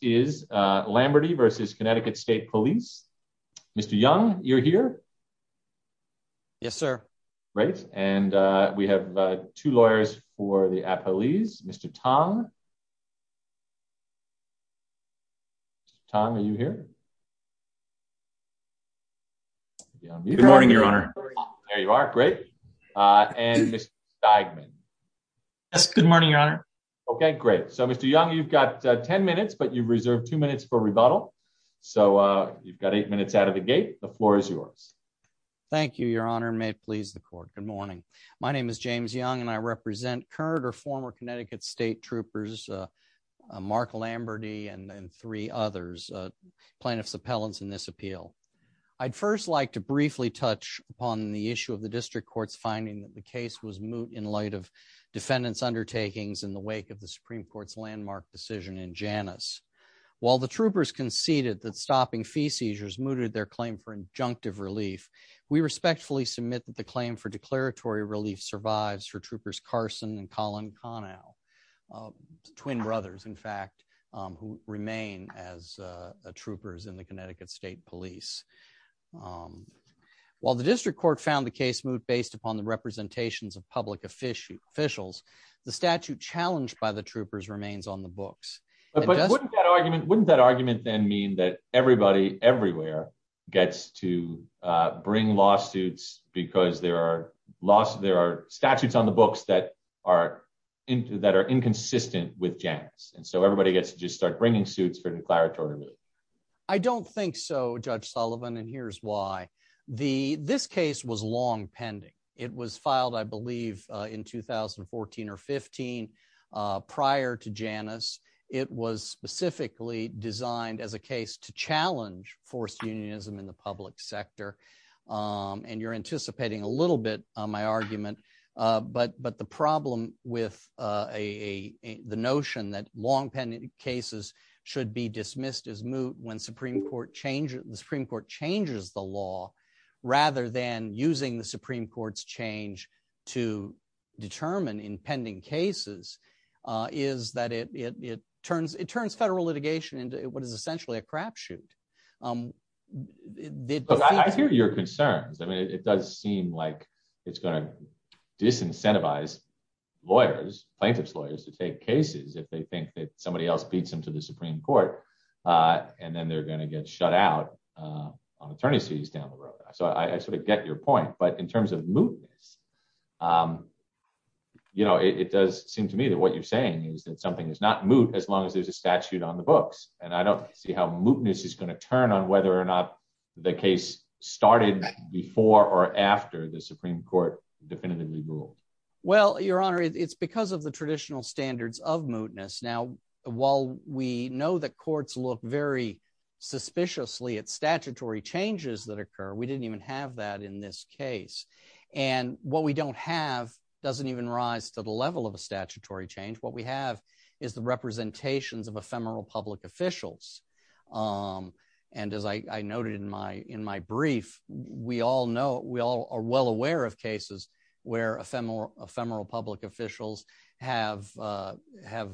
is Lamberty versus Connecticut State Police. Mr Young, you're here. Yes, sir. Great. And we have two lawyers for the appellees. Mr. Tom. Tom, are you here? Good morning, Your Honor. There you are. Great. And Mr. Steigman. Yes. Good morning, Your Honor. Okay, great. So Mr. Young, you've got 10 minutes, but you've reserved two minutes for rebuttal. So you've got eight minutes out of the gate. The floor is yours. Thank you, Your Honor. May it please the court. Good morning. My name is James Young, and I represent current or former Connecticut State Troopers Mark Lamberty and three others plaintiffs appellants in this appeal. I'd first like to briefly touch upon the issue of the district court's finding that the case was moot in light of defendants undertakings in the wake of the Supreme Court's landmark decision in Janice. While the troopers conceded that stopping fee seizures mooted their claim for injunctive relief, we respectfully submit that the claim for declaratory relief survives for troopers Carson and Colin Connell, twin brothers, in fact, who remain as troopers in the Connecticut State Police. While the district court found the case moot based upon the representations of public officials, officials, the statute challenged by the troopers remains on the books. But wouldn't that argument wouldn't that argument then mean that everybody everywhere gets to bring lawsuits because there are lost. There are statutes on the books that are that are inconsistent with Janice. And so everybody gets to just start bringing suits for declaratory. I don't think so, Judge Sullivan. And here's why. The this case was long pending. It was filed, I believe, in 2014 or 15. Prior to Janice, it was specifically designed as a case to challenge forced unionism in the public sector. And you're anticipating a little bit on my argument. But But the problem with a the notion that long pending cases should be dismissed as moot when Supreme Court change Supreme Court changes the law, rather than using the Supreme Court's change to determine impending cases, is that it turns it turns federal litigation into what is essentially a crapshoot. I hear your concerns. I mean, it does seem like it's going to disincentivize lawyers, plaintiffs lawyers to take cases if they think that somebody else beats them to the Supreme Court. And then they're going to get shut out on attorneys fees down the road. So I sort of get your point. But in terms of mootness, you know, it does seem to me that what you're saying is that something is not moot as long as there's a statute on the books. And I don't see how mootness is going to turn on whether or not the case started before or after the Supreme Court definitively ruled. Well, Your Honor, it's because of the traditional standards of mootness. Now, while we know that courts look very suspiciously at statutory changes that occur, we didn't even have that in this case. And what we don't have doesn't even rise to the level of a statutory change. What we have is the representations of ephemeral public officials. And as I noted in my in my brief, we all know we all are well aware of cases where ephemeral public officials have have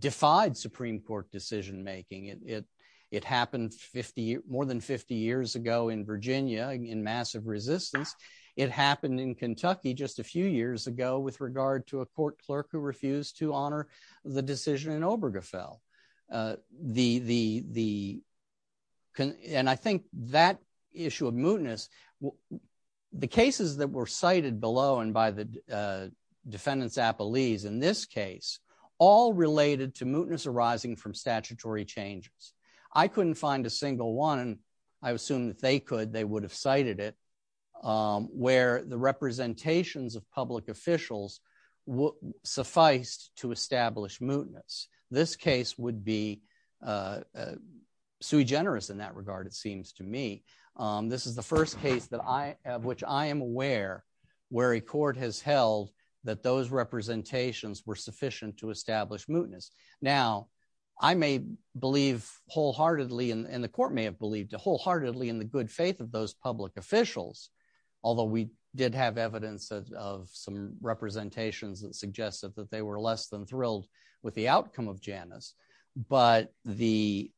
defied Supreme Court decision making it. It happened 50 more than 50 years ago in Virginia in massive resistance. It happened in Kentucky just a few years ago with regard to a court clerk who refused to honor the decision in Obergefell. The the the and I think that issue of mootness, the cases that were cited below and by the defendants appellees in this case, all related to mootness arising from statutory changes. I couldn't find a single one. I assume that they could. They would have cited it where the representations of public officials sufficed to establish mootness. This case would be sui generis in that regard, it seems to me. This is the first case that I which I am aware where a court has held that those representations were sufficient to establish mootness. Now, I may believe wholeheartedly and the court may have believed wholeheartedly in the good faith of those public officials, although we did have evidence of some representations that suggested that they were less than thrilled with the outcome of Janice. But the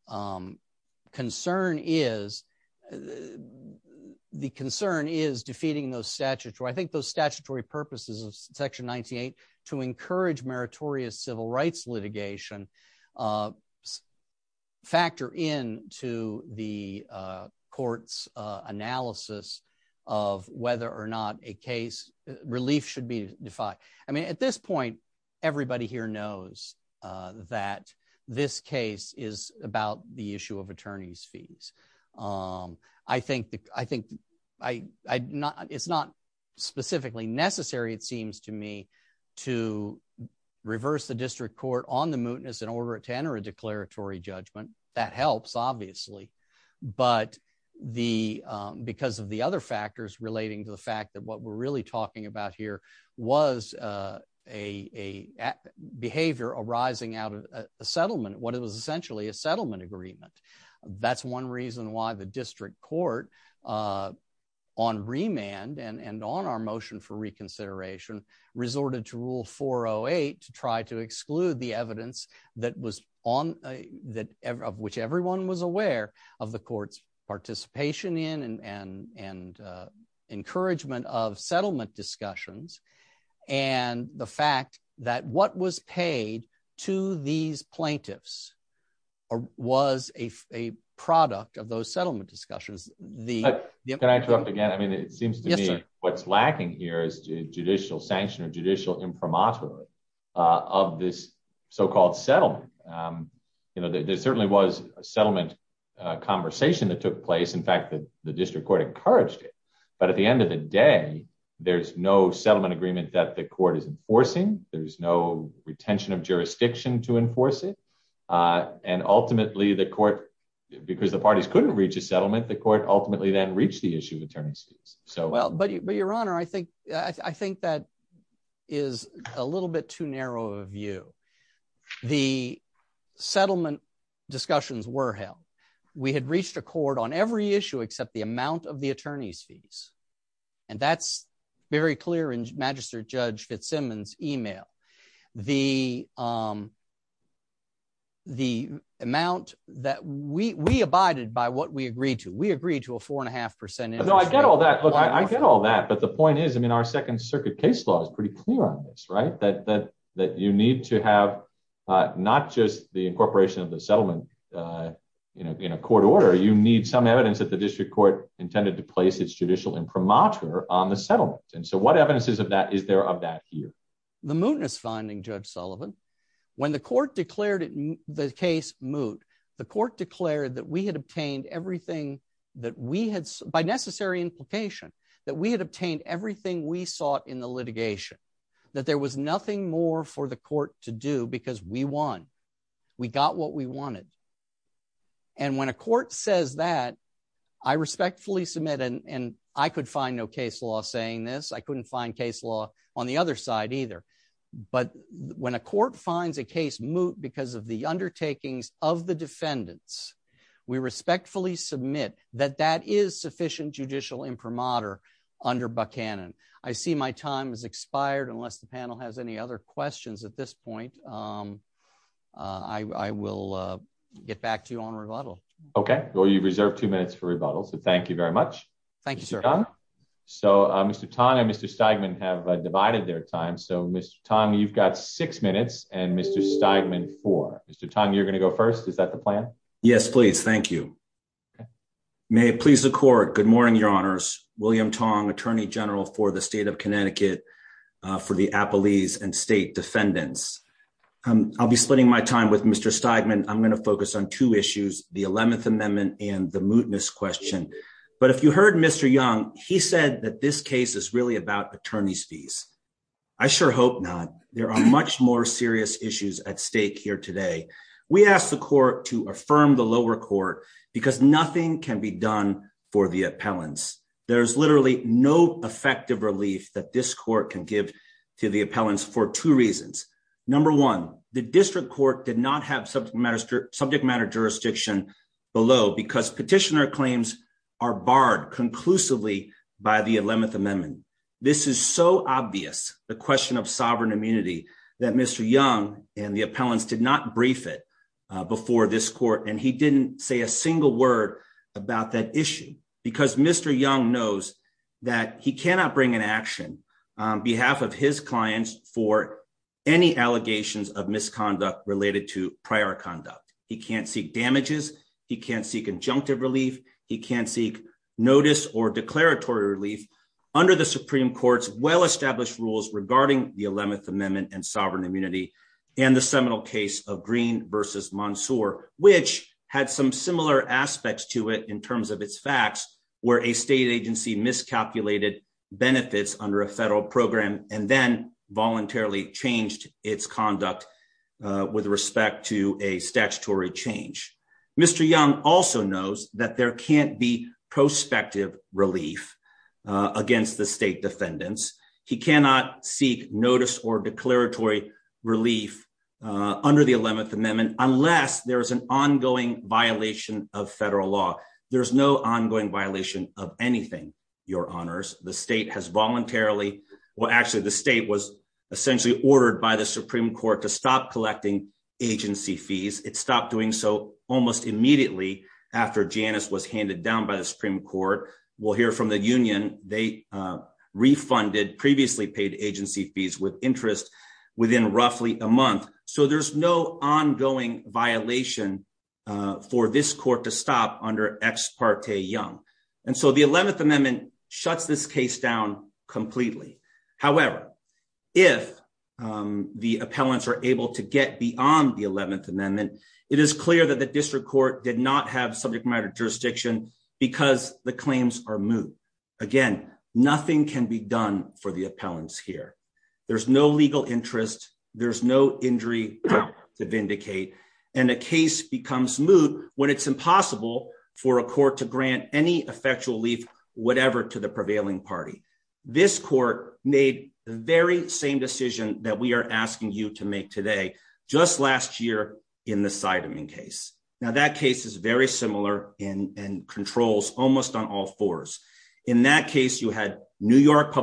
concern is the concern is defeating those statutes. I think those statutory purposes of Section 98 to encourage meritorious civil rights litigation factor in to the court's analysis of whether or not a case relief should be defied. I mean, at this point, everybody here knows that this case is about the issue of attorney's fees. I think I think I not it's not specifically necessary, it seems to me, to reverse the district court on the mootness in order to enter a declaratory judgment. That helps, obviously. But the because of the other factors relating to the fact that what we're really talking about here was a behavior arising out of a settlement, what it was essentially a settlement agreement. That's one reason why the district court on remand and on our motion for reconsideration resorted to rule 408 to try to exclude the evidence that was on that of which everyone was aware of the encouragement of settlement discussions and the fact that what was paid to these plaintiffs was a product of those settlement discussions. The can I go up again? I mean, it seems to me what's lacking here is judicial sanction or judicial imprimatur of this so called settlement. You know, there certainly was a settlement conversation that took place. In fact, the district court encouraged it. But at the end of the day, there's no settlement agreement that the court is enforcing. There's no retention of jurisdiction to enforce it. And ultimately, the court, because the parties couldn't reach a settlement, the court ultimately then reach the issue of attorney's fees. So well, but your honor, I think I think that is a little bit too narrow of a view. The court on every issue except the amount of the attorney's fees. And that's very clear in Magistrate Judge Fitzsimmons email, the the amount that we abided by what we agreed to, we agreed to a four and a half percent. I get all that. I get all that. But the point is, I mean, our Second Circuit case law is pretty clear on this, right, that that that you need to have not just the incorporation of the settlement in a court order, you need some evidence that the district court intended to place its judicial imprimatur on the settlement. And so what evidence is of that? Is there of that here? The mootness finding Judge Sullivan, when the court declared the case moot, the court declared that we had obtained everything that we had by necessary implication, that we had obtained everything we sought in the litigation, that there was nothing more for the court to do because we won, we got what we wanted. And when a court says that, I respectfully submit and I could find no case law saying this, I couldn't find case law on the other side either. But when a court finds a case moot because of the undertakings of the defendants, we respectfully submit that that is sufficient judicial imprimatur under Buchanan. I see my time has expired unless the panel has any other questions at this point. Um, I will get back to you on rebuttal. Okay, well, you've reserved two minutes for rebuttal. So thank you very much. Thank you, sir. So Mr Tan and Mr Steigman have divided their time. So Mr Tong, you've got six minutes and Mr Steigman for Mr Tong. You're gonna go first. Is that the plan? Yes, please. Thank you. Okay. May it please the court. Good morning, Your Honor. I'm the attorney general of the District of Connecticut for the Apple Ease and state defendants. I'll be splitting my time with Mr Steigman. I'm going to focus on two issues, the 11th Amendment and the mootness question. But if you heard Mr Young, he said that this case is really about attorney's fees. I sure hope not. There are much more serious issues at stake here today. We asked the court to affirm the lower court because nothing can be done for the appellants. There's literally no effective relief that this court can give to the appellants for two reasons. Number one, the district court did not have subject matter subject matter jurisdiction below because petitioner claims are barred conclusively by the 11th Amendment. This is so obvious the question of sovereign immunity that Mr Young and the appellants did not brief it before this court and he didn't say a single word about that issue because Mr Young knows that he cannot bring an action on behalf of his clients for any allegations of misconduct related to prior conduct. He can't seek damages. He can't seek injunctive relief. He can't seek notice or declaratory relief under the Supreme Court's well established rules regarding the 11th Amendment and versus Mansoor, which had some similar aspects to it in terms of its facts where a state agency miscalculated benefits under a federal program and then voluntarily changed its conduct with respect to a statutory change. Mr Young also knows that there can't be prospective relief against the state defendants. He cannot seek notice or declaratory relief under the 11th Amendment unless there is an ongoing violation of federal law. There's no ongoing violation of anything. Your honors. The state has voluntarily well actually the state was essentially ordered by the Supreme Court to stop collecting agency fees. It stopped doing so almost immediately after Janice was handed down by the Supreme Court. We'll hear from the union. They uh refunded previously paid agency fees with interest within roughly a month. So there's no ongoing violation for this court to stop under ex parte young. And so the 11th Amendment shuts this case down completely. However, if um the appellants are able to get beyond the 11th Amendment, it is clear that the district court did not have subject matter jurisdiction because the claims are moved again. Nothing can be done for the appellants here. There's no legal interest, there's no injury to vindicate and the case becomes smooth when it's impossible for a court to grant any effectual leaf whatever to the prevailing party. This court made the very same decision that we are asking you to make today just last year in the side of in case. Now that case is very similar in and controls almost on all fours. In that case, you had new York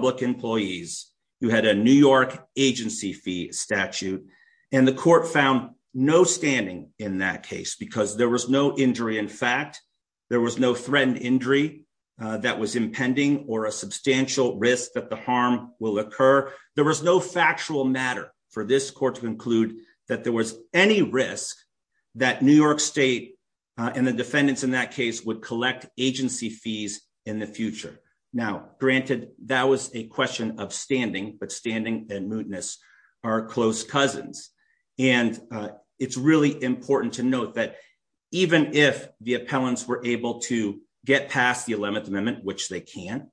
agency fee statute and the court found no standing in that case because there was no injury. In fact, there was no threatened injury uh that was impending or a substantial risk that the harm will occur. There was no factual matter for this court to include that there was any risk that new york state and the defendants in that case would collect agency fees in the future. Now granted that was a question of standing but standing and mootness are close cousins and uh it's really important to note that even if the appellants were able to get past the 11th Amendment which they can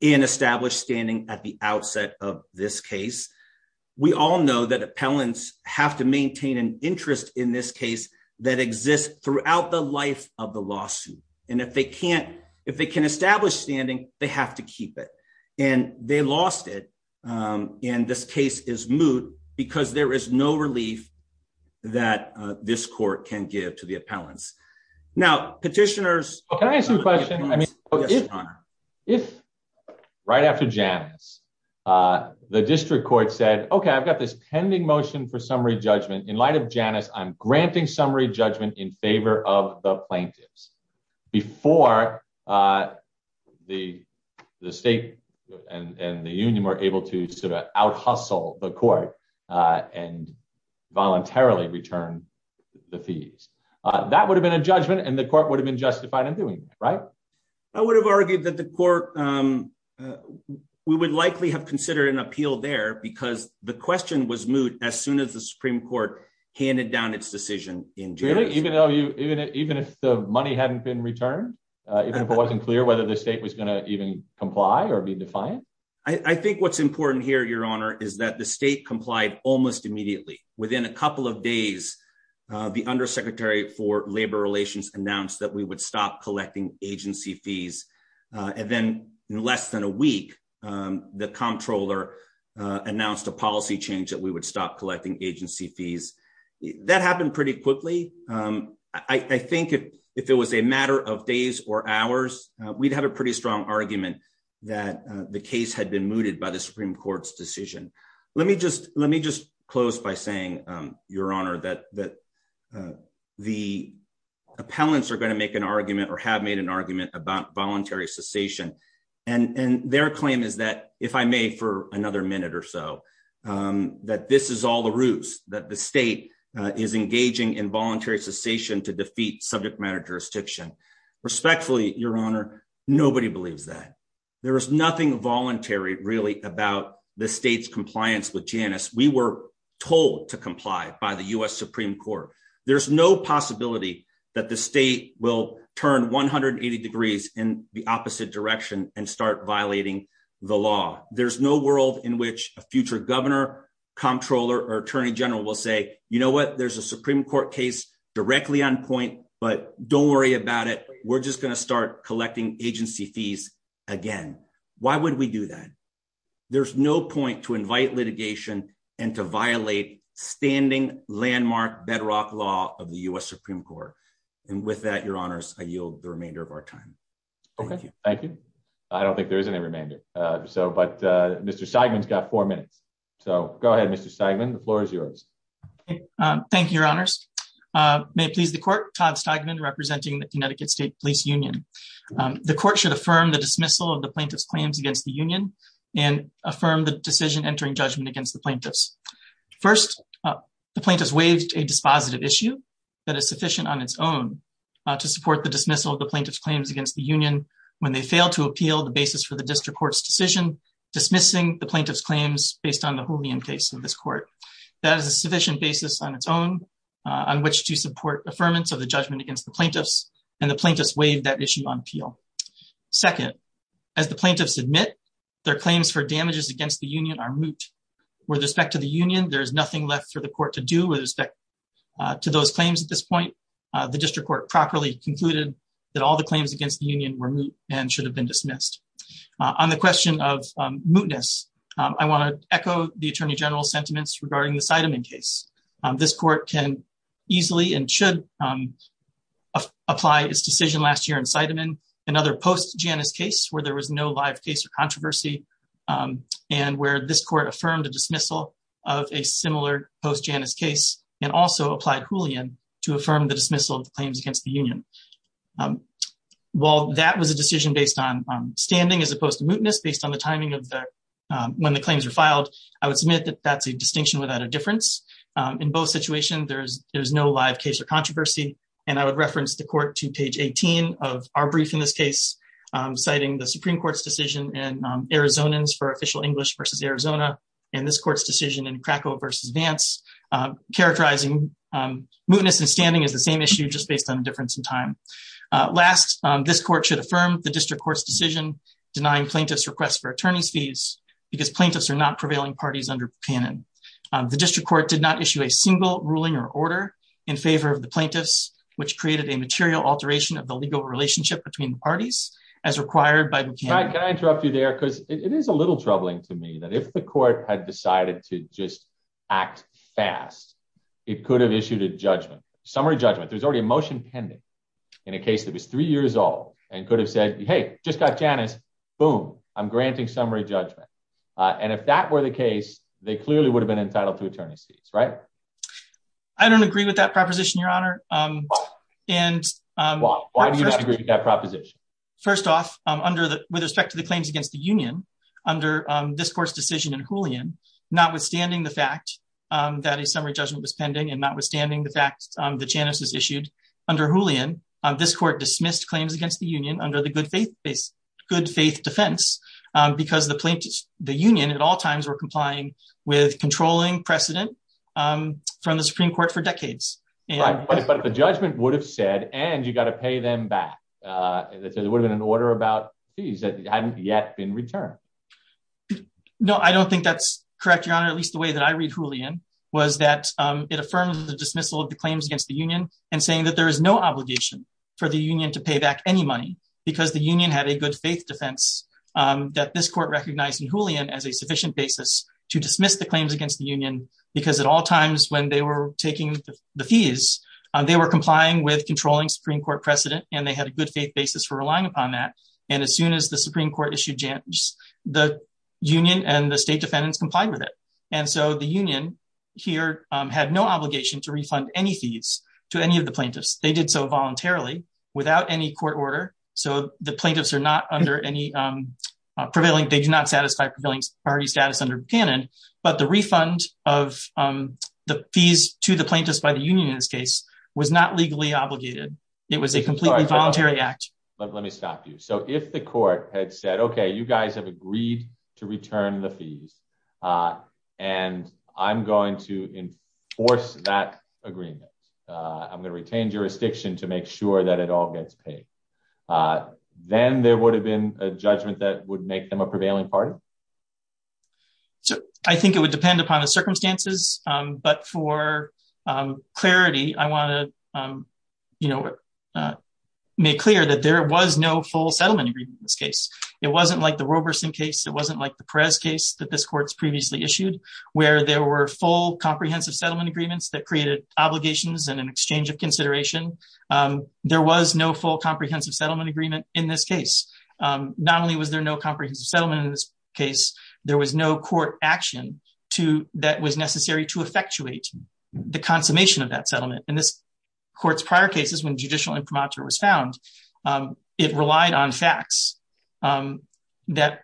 and establish standing at the outset of this case. We all know that appellants have to maintain an interest in this case that exists throughout the life of lawsuit. And if they can't, if they can establish standing, they have to keep it and they lost it. Um and this case is moot because there is no relief that this court can give to the appellants. Now petitioners, can I ask you a question? I mean, if right after janice uh the district court said, okay, I've got this pending motion for summary judgment in light of janice. I'm before uh the the state and the union were able to sort of out hustle the court uh and voluntarily return the fees. Uh that would have been a judgment and the court would have been justified in doing that. Right. I would have argued that the court um we would likely have considered an appeal there because the question was moot as soon as the Supreme Court handed down its decision in jail. Even though you, even if the money hadn't been returned, even if it wasn't clear whether the state was going to even comply or be defiant. I think what's important here, your honor, is that the state complied almost immediately within a couple of days. Uh the undersecretary for labor relations announced that we would stop collecting agency fees. Uh and then in less than a week, um the comptroller uh announced a policy change that we would stop collecting agency fees. That happened pretty quickly. Um I think if it was a matter of days or hours, we'd have a pretty strong argument that the case had been mooted by the Supreme Court's decision. Let me just let me just close by saying um your honor that that uh the appellants are going to make an argument or have made an argument about voluntary cessation. And is all the roots that the state uh is engaging in voluntary cessation to defeat subject matter jurisdiction. Respectfully, your honor, nobody believes that there is nothing voluntary really about the state's compliance with Janice. We were told to comply by the U. S. Supreme Court. There's no possibility that the state will turn 180 degrees in the opposite direction and start violating the law. There's no world in which a future governor comptroller or attorney general will say, you know what? There's a Supreme Court case directly on point, but don't worry about it. We're just gonna start collecting agency fees again. Why would we do that? There's no point to invite litigation and to violate standing landmark bedrock law of the U. S. Supreme Court. And with that, your honors, I yield the remainder of our time. Thank you. Thank you. I don't think there is any remainder. Uh so, but uh, Mr Seidman's got four minutes. So go ahead, Mr Seidman. The floor is yours. Um, thank you, your honors. Uh, may please the court. Todd Steigman representing the Connecticut State Police Union. Um, the court should affirm the dismissal of the plaintiff's claims against the union and affirm the decision entering judgment against the plaintiffs. First, the plaintiffs waived a dispositive issue that is sufficient on its own to support the dismissal of the plaintiff's claims against the union when they fail to appeal the basis for the district court's decision, dismissing the plaintiff's claims based on the holium case of this court. That is a sufficient basis on its own on which to support affirmance of the judgment against the plaintiffs and the plaintiffs waived that issue on appeal. Second, as the plaintiffs admit their claims for damages against the union are moot. With respect to the union, there is nothing left for the court to do with respect to those claims. At this point, the district court properly concluded that all the claims against the union were moot and should have been dismissed. On the question of mootness, I want to echo the attorney general's sentiments regarding the sidemen case. This court can easily and should, um, apply his decision last year in sidemen, another post Janice case where there was no live case of controversy. Um, and where this court affirmed a dismissal of a similar post Janice case and also applied Julian to affirm the dismissal of claims against the union. Um, while that was a decision based on standing as opposed to mootness based on the timing of the, um, when the claims were filed, I would submit that that's a distinction without a difference. Um, in both situations, there's no live case or controversy. And I would reference the court to page 18 of our brief in this case, um, citing the Supreme Court's decision and Arizona's for official English versus Arizona and this court's decision in Krakow versus Vance, um, characterizing, um, mootness and name issue just based on the difference in time. Last, this court should affirm the district court's decision denying plaintiff's request for attorney's fees because plaintiffs are not prevailing parties under Buchanan. The district court did not issue a single ruling or order in favor of the plaintiffs, which created a material alteration of the legal relationship between the parties as required by Buchanan. Can I interrupt you there? Because it is a little troubling to me that if the court had there's already a motion pending in a case that was three years old and could have said, Hey, just got Janice. Boom, I'm granting summary judgment on if that were the case, they clearly would have been entitled to attorney's fees, right? I don't agree with that proposition, Your Honor. Um, and, um, why do you not agree with that proposition? First off, under the with respect to the claims against the union under this court's decision in Julian, notwithstanding the fact that a summary judgment was pending and notwithstanding the fact that Janice is issued under Julian, this court dismissed claims against the union under the good faith is good faith defense because the plaintiffs, the union at all times were complying with controlling precedent, um, from the Supreme Court for decades. But the judgment would have said, and you've got to pay them back. Uh, it would have been an order about fees that hadn't yet been returned. No, I don't think that's correct, Your Honor. At least the way that I read Julian was that it affirms the dismissal of the claims against the union and saying that there is no obligation for the union to pay back any money because the union had a good faith defense that this court recognized in Julian as a sufficient basis to dismiss the claims against the union because at all times when they were taking the fees, they were complying with controlling Supreme Court precedent, and they had a good faith basis for relying upon that. And as soon as the Supreme Court issued Janice, the union and the state defendants complied with it. And so the union here had no obligation to refund any fees to any of the plaintiffs. They did so voluntarily without any court order. So the plaintiffs are not under any prevailing. They do not satisfy prevailing party status under cannon. But the refund of um, the fees to the plaintiffs by the union in this case was not legally obligated. It was a completely voluntary act. Let me stop you. So if the court had said, Okay, you guys have agreed to return the fees. Uh, and I'm going to enforce that agreement. Uh, I'm gonna retain jurisdiction to make sure that it all gets paid. Uh, then there would have been a judgment that would make them a prevailing party. So I think it would depend upon the circumstances. Um, but for, um, clarity, I want to, um, you know, uh, make clear that there was no full settlement agreement in this case. It wasn't like the Roberson case. It wasn't like the Perez case that this court's previously issued, where there were full comprehensive settlement agreements that created obligations and an exchange of consideration. Um, there was no full comprehensive settlement agreement in this case. Um, not only was there no comprehensive settlement in this case, there was no court action to that was necessary to effectuate the consummation of that settlement in this court's prior cases. When judicial imprimatur was found, it relied on facts, um, that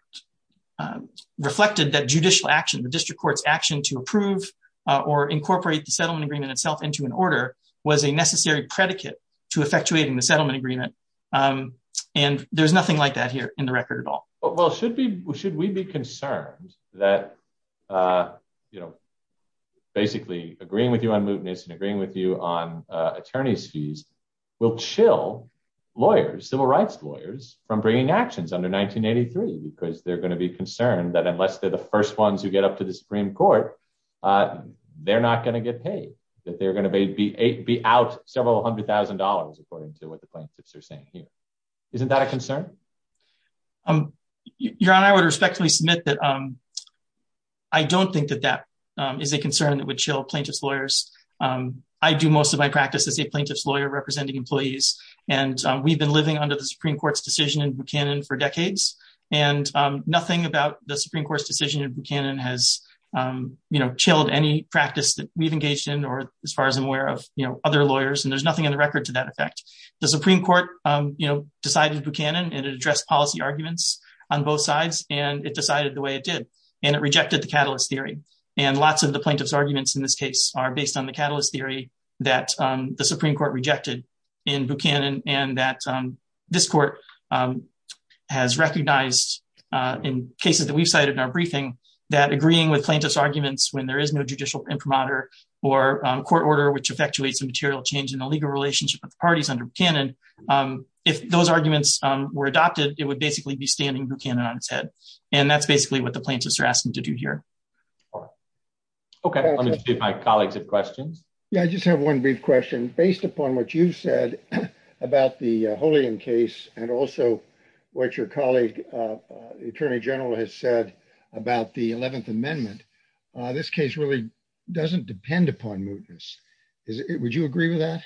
reflected that judicial action. The district court's action to approve or incorporate the settlement agreement itself into an order was a necessary predicate to effectuating the settlement agreement. Um, and there's nothing like that here in the record at all. Well, should be. Should we be concerned that, uh, you know, basically agreeing with you on mootness and agreeing with you on attorney's fees will chill lawyers, civil rights lawyers from bringing actions under 1983 because they're going to be concerned that unless they're the first ones who get up to the Supreme Court, uh, they're not going to get paid, that they're going to be eight be out several $100,000, according to what the plaintiffs are saying here. Isn't that a concern? Um, your honor, I would respectfully submit that, um, I don't think that that, um, is a concern that would chill plaintiff's lawyers. Um, I do most of my practice as a plaintiff's lawyer representing employees, and we've been living under the Supreme Court's decision in Buchanan for decades and, um, nothing about the Supreme Court's decision in Buchanan has, um, you know, chilled any practice that we've engaged in or as far as I'm aware of, you know, other lawyers, and there's nothing in the record to that effect. The Supreme Court, um, you know, decided Buchanan and address policy arguments on both sides and it decided the way it did, and it rejected the catalyst theory. And lots of the plaintiff's arguments in this case are based on the catalyst theory that, um, the Supreme Court rejected in Buchanan and that, um, this court, um, has recognized, uh, in cases that we've cited in our briefing, that agreeing with plaintiff's arguments when there is no judicial imprimatur or, um, court order, which effectuates a material change in the legal relationship with the parties under Buchanan, um, if those arguments, um, were adopted, it would basically be standing Buchanan on its head. And that's basically what the plaintiffs are asking to do here. Okay, let me get my colleagues of questions. Yeah, I just have one brief question based upon what you said about the Holy in case and also what your colleague, uh, Attorney General has said about the 11th Amendment. This case really doesn't depend upon movements. Would you agree with that?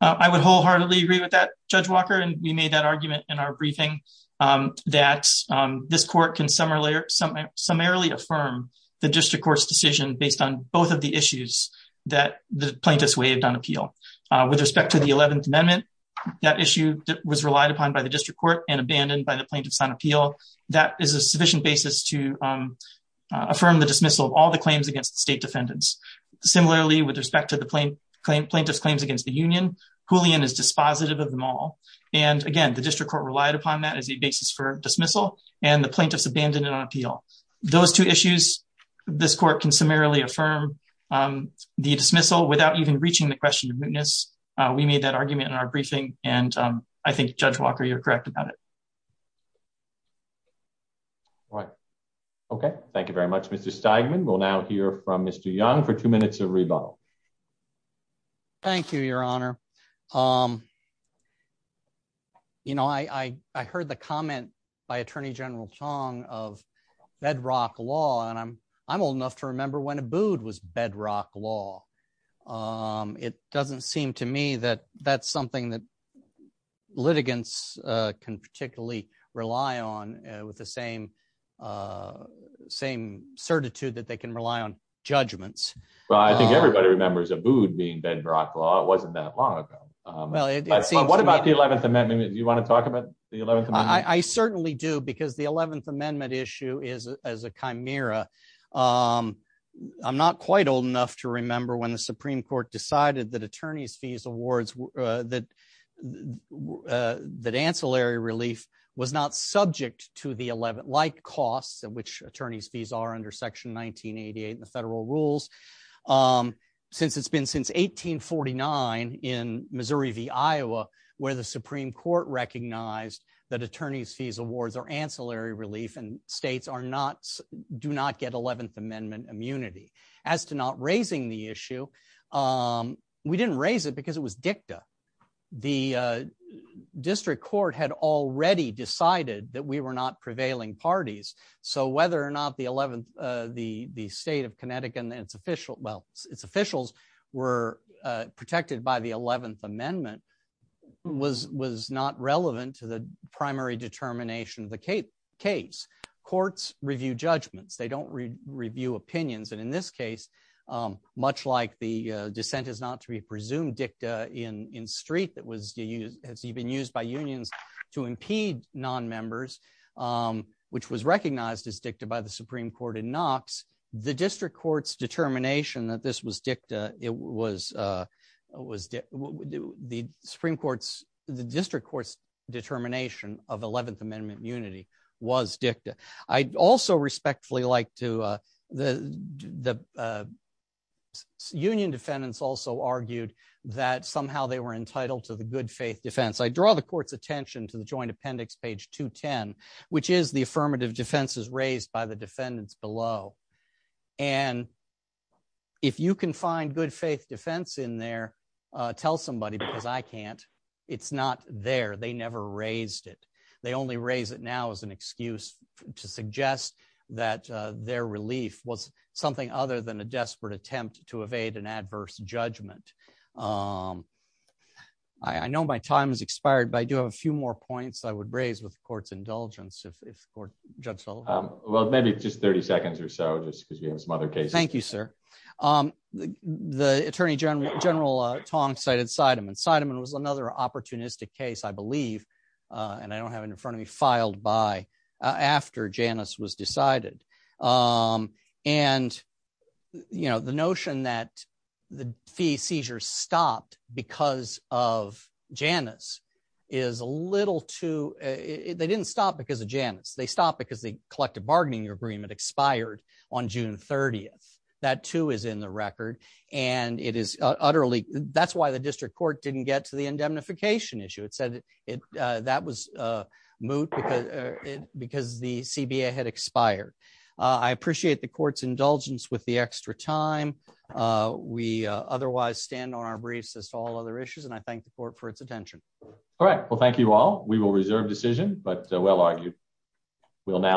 I would wholeheartedly agree with that, Judge Walker, and we made that argument in our briefing, um, that, um, this court can summarily affirm the district court's decision based on both of the issues that the plaintiffs waived on appeal. Uh, with respect to the 11th Amendment, that issue was relied upon by the district court and abandoned by the plaintiffs on appeal. That is a sufficient basis to, um, uh, affirm the dismissal of all the claims against the state defendants. Similarly, with respect to the plaintiff's claims against the union, Julian is dispositive of them all. And again, the district court relied upon that as a basis for dismissal, and the plaintiffs abandoned on appeal. Those two issues. This court can summarily affirm, um, the dismissal without even reaching the question of witness. We made that argument in our briefing, and I think Judge Walker, you're correct about it. All right. Okay. Thank you very much. Mr Steigman will now hear from Mr Young for two minutes of rebuttal. Thank you, Your Honor. Um, you know, I heard the comment by Attorney General Chong of bedrock law, and I'm I'm old enough to remember when a booed was bedrock law. Um, it doesn't seem to me that that's something that litigants can particularly rely on with the same, uh, same certitude that they can rely on judgments. Well, I think everybody remembers a booed being bedrock law. It wasn't that long ago. Well, what about the 11th Amendment? You want to talk about the 11th? I certainly do, because the 11th Amendment issue is as a chimera. Um, I'm not quite old enough to remember when the Supreme Court decided that attorneys fees awards that, uh, that ancillary relief was not subject to the 11 like costs in which attorneys fees are under Section 1988 in the federal rules. Um, since it's been since 18 49 in Missouri v. Iowa, where the Supreme Court recognized that attorneys fees awards or ancillary relief and states are not do not get 11th Amendment immunity as to not raising the issue. Um, we didn't raise it because it was dicta. The district court had already decided that we were not prevailing parties. So whether or not the 11th the state of Connecticut and its official well, its officials were protected by the 11th Amendment was was not relevant to the primary determination of the Cape case. Courts review judgments. They don't review opinions. And in this case, um, much like the dissent is not to be presumed dicta in in street that was used has even used by unions to impede non Um, which was recognized as dicta by the Supreme Court in Knox. The district court's determination that this was dicta. It was, uh, was the Supreme Court's. The district court's determination of 11th Amendment unity was dicta. I also respectfully like to, uh, the, uh, union defendants also argued that somehow they were entitled to the good faith defense. I draw the attention to the joint appendix page to 10, which is the affirmative defenses raised by the defendants below. And if you can find good faith defense in there, tell somebody because I can't. It's not there. They never raised it. They only raise it now is an excuse to suggest that their relief was something other than a desperate attempt to evade an adverse judgment. Um, I know my time is expired, but I do have a few more points I would raise with court's indulgence. If court judge so well, maybe just 30 seconds or so, just because we have some other cases. Thank you, sir. Um, the Attorney General General Tong cited side him inside him. It was another opportunistic case, I believe on I don't have in front of me filed by after Janice was decided. Um, and, you know, the notion that the fee seizures stopped because of Janice is a little too. They didn't stop because of Janice. They stopped because the collective bargaining agreement expired on June 30th. That too is in the record, and it is utterly. That's why the district court didn't get to the indemnification issue. It said that was, uh, moot because because the C. B. A. Had expired. I appreciate the court's indulgence with the extra time. Uh, we otherwise stand on our briefs as to all other issues, and I thank the court for its attention. All right. Well, thank you all. We will reserve decision, but well argued. We'll now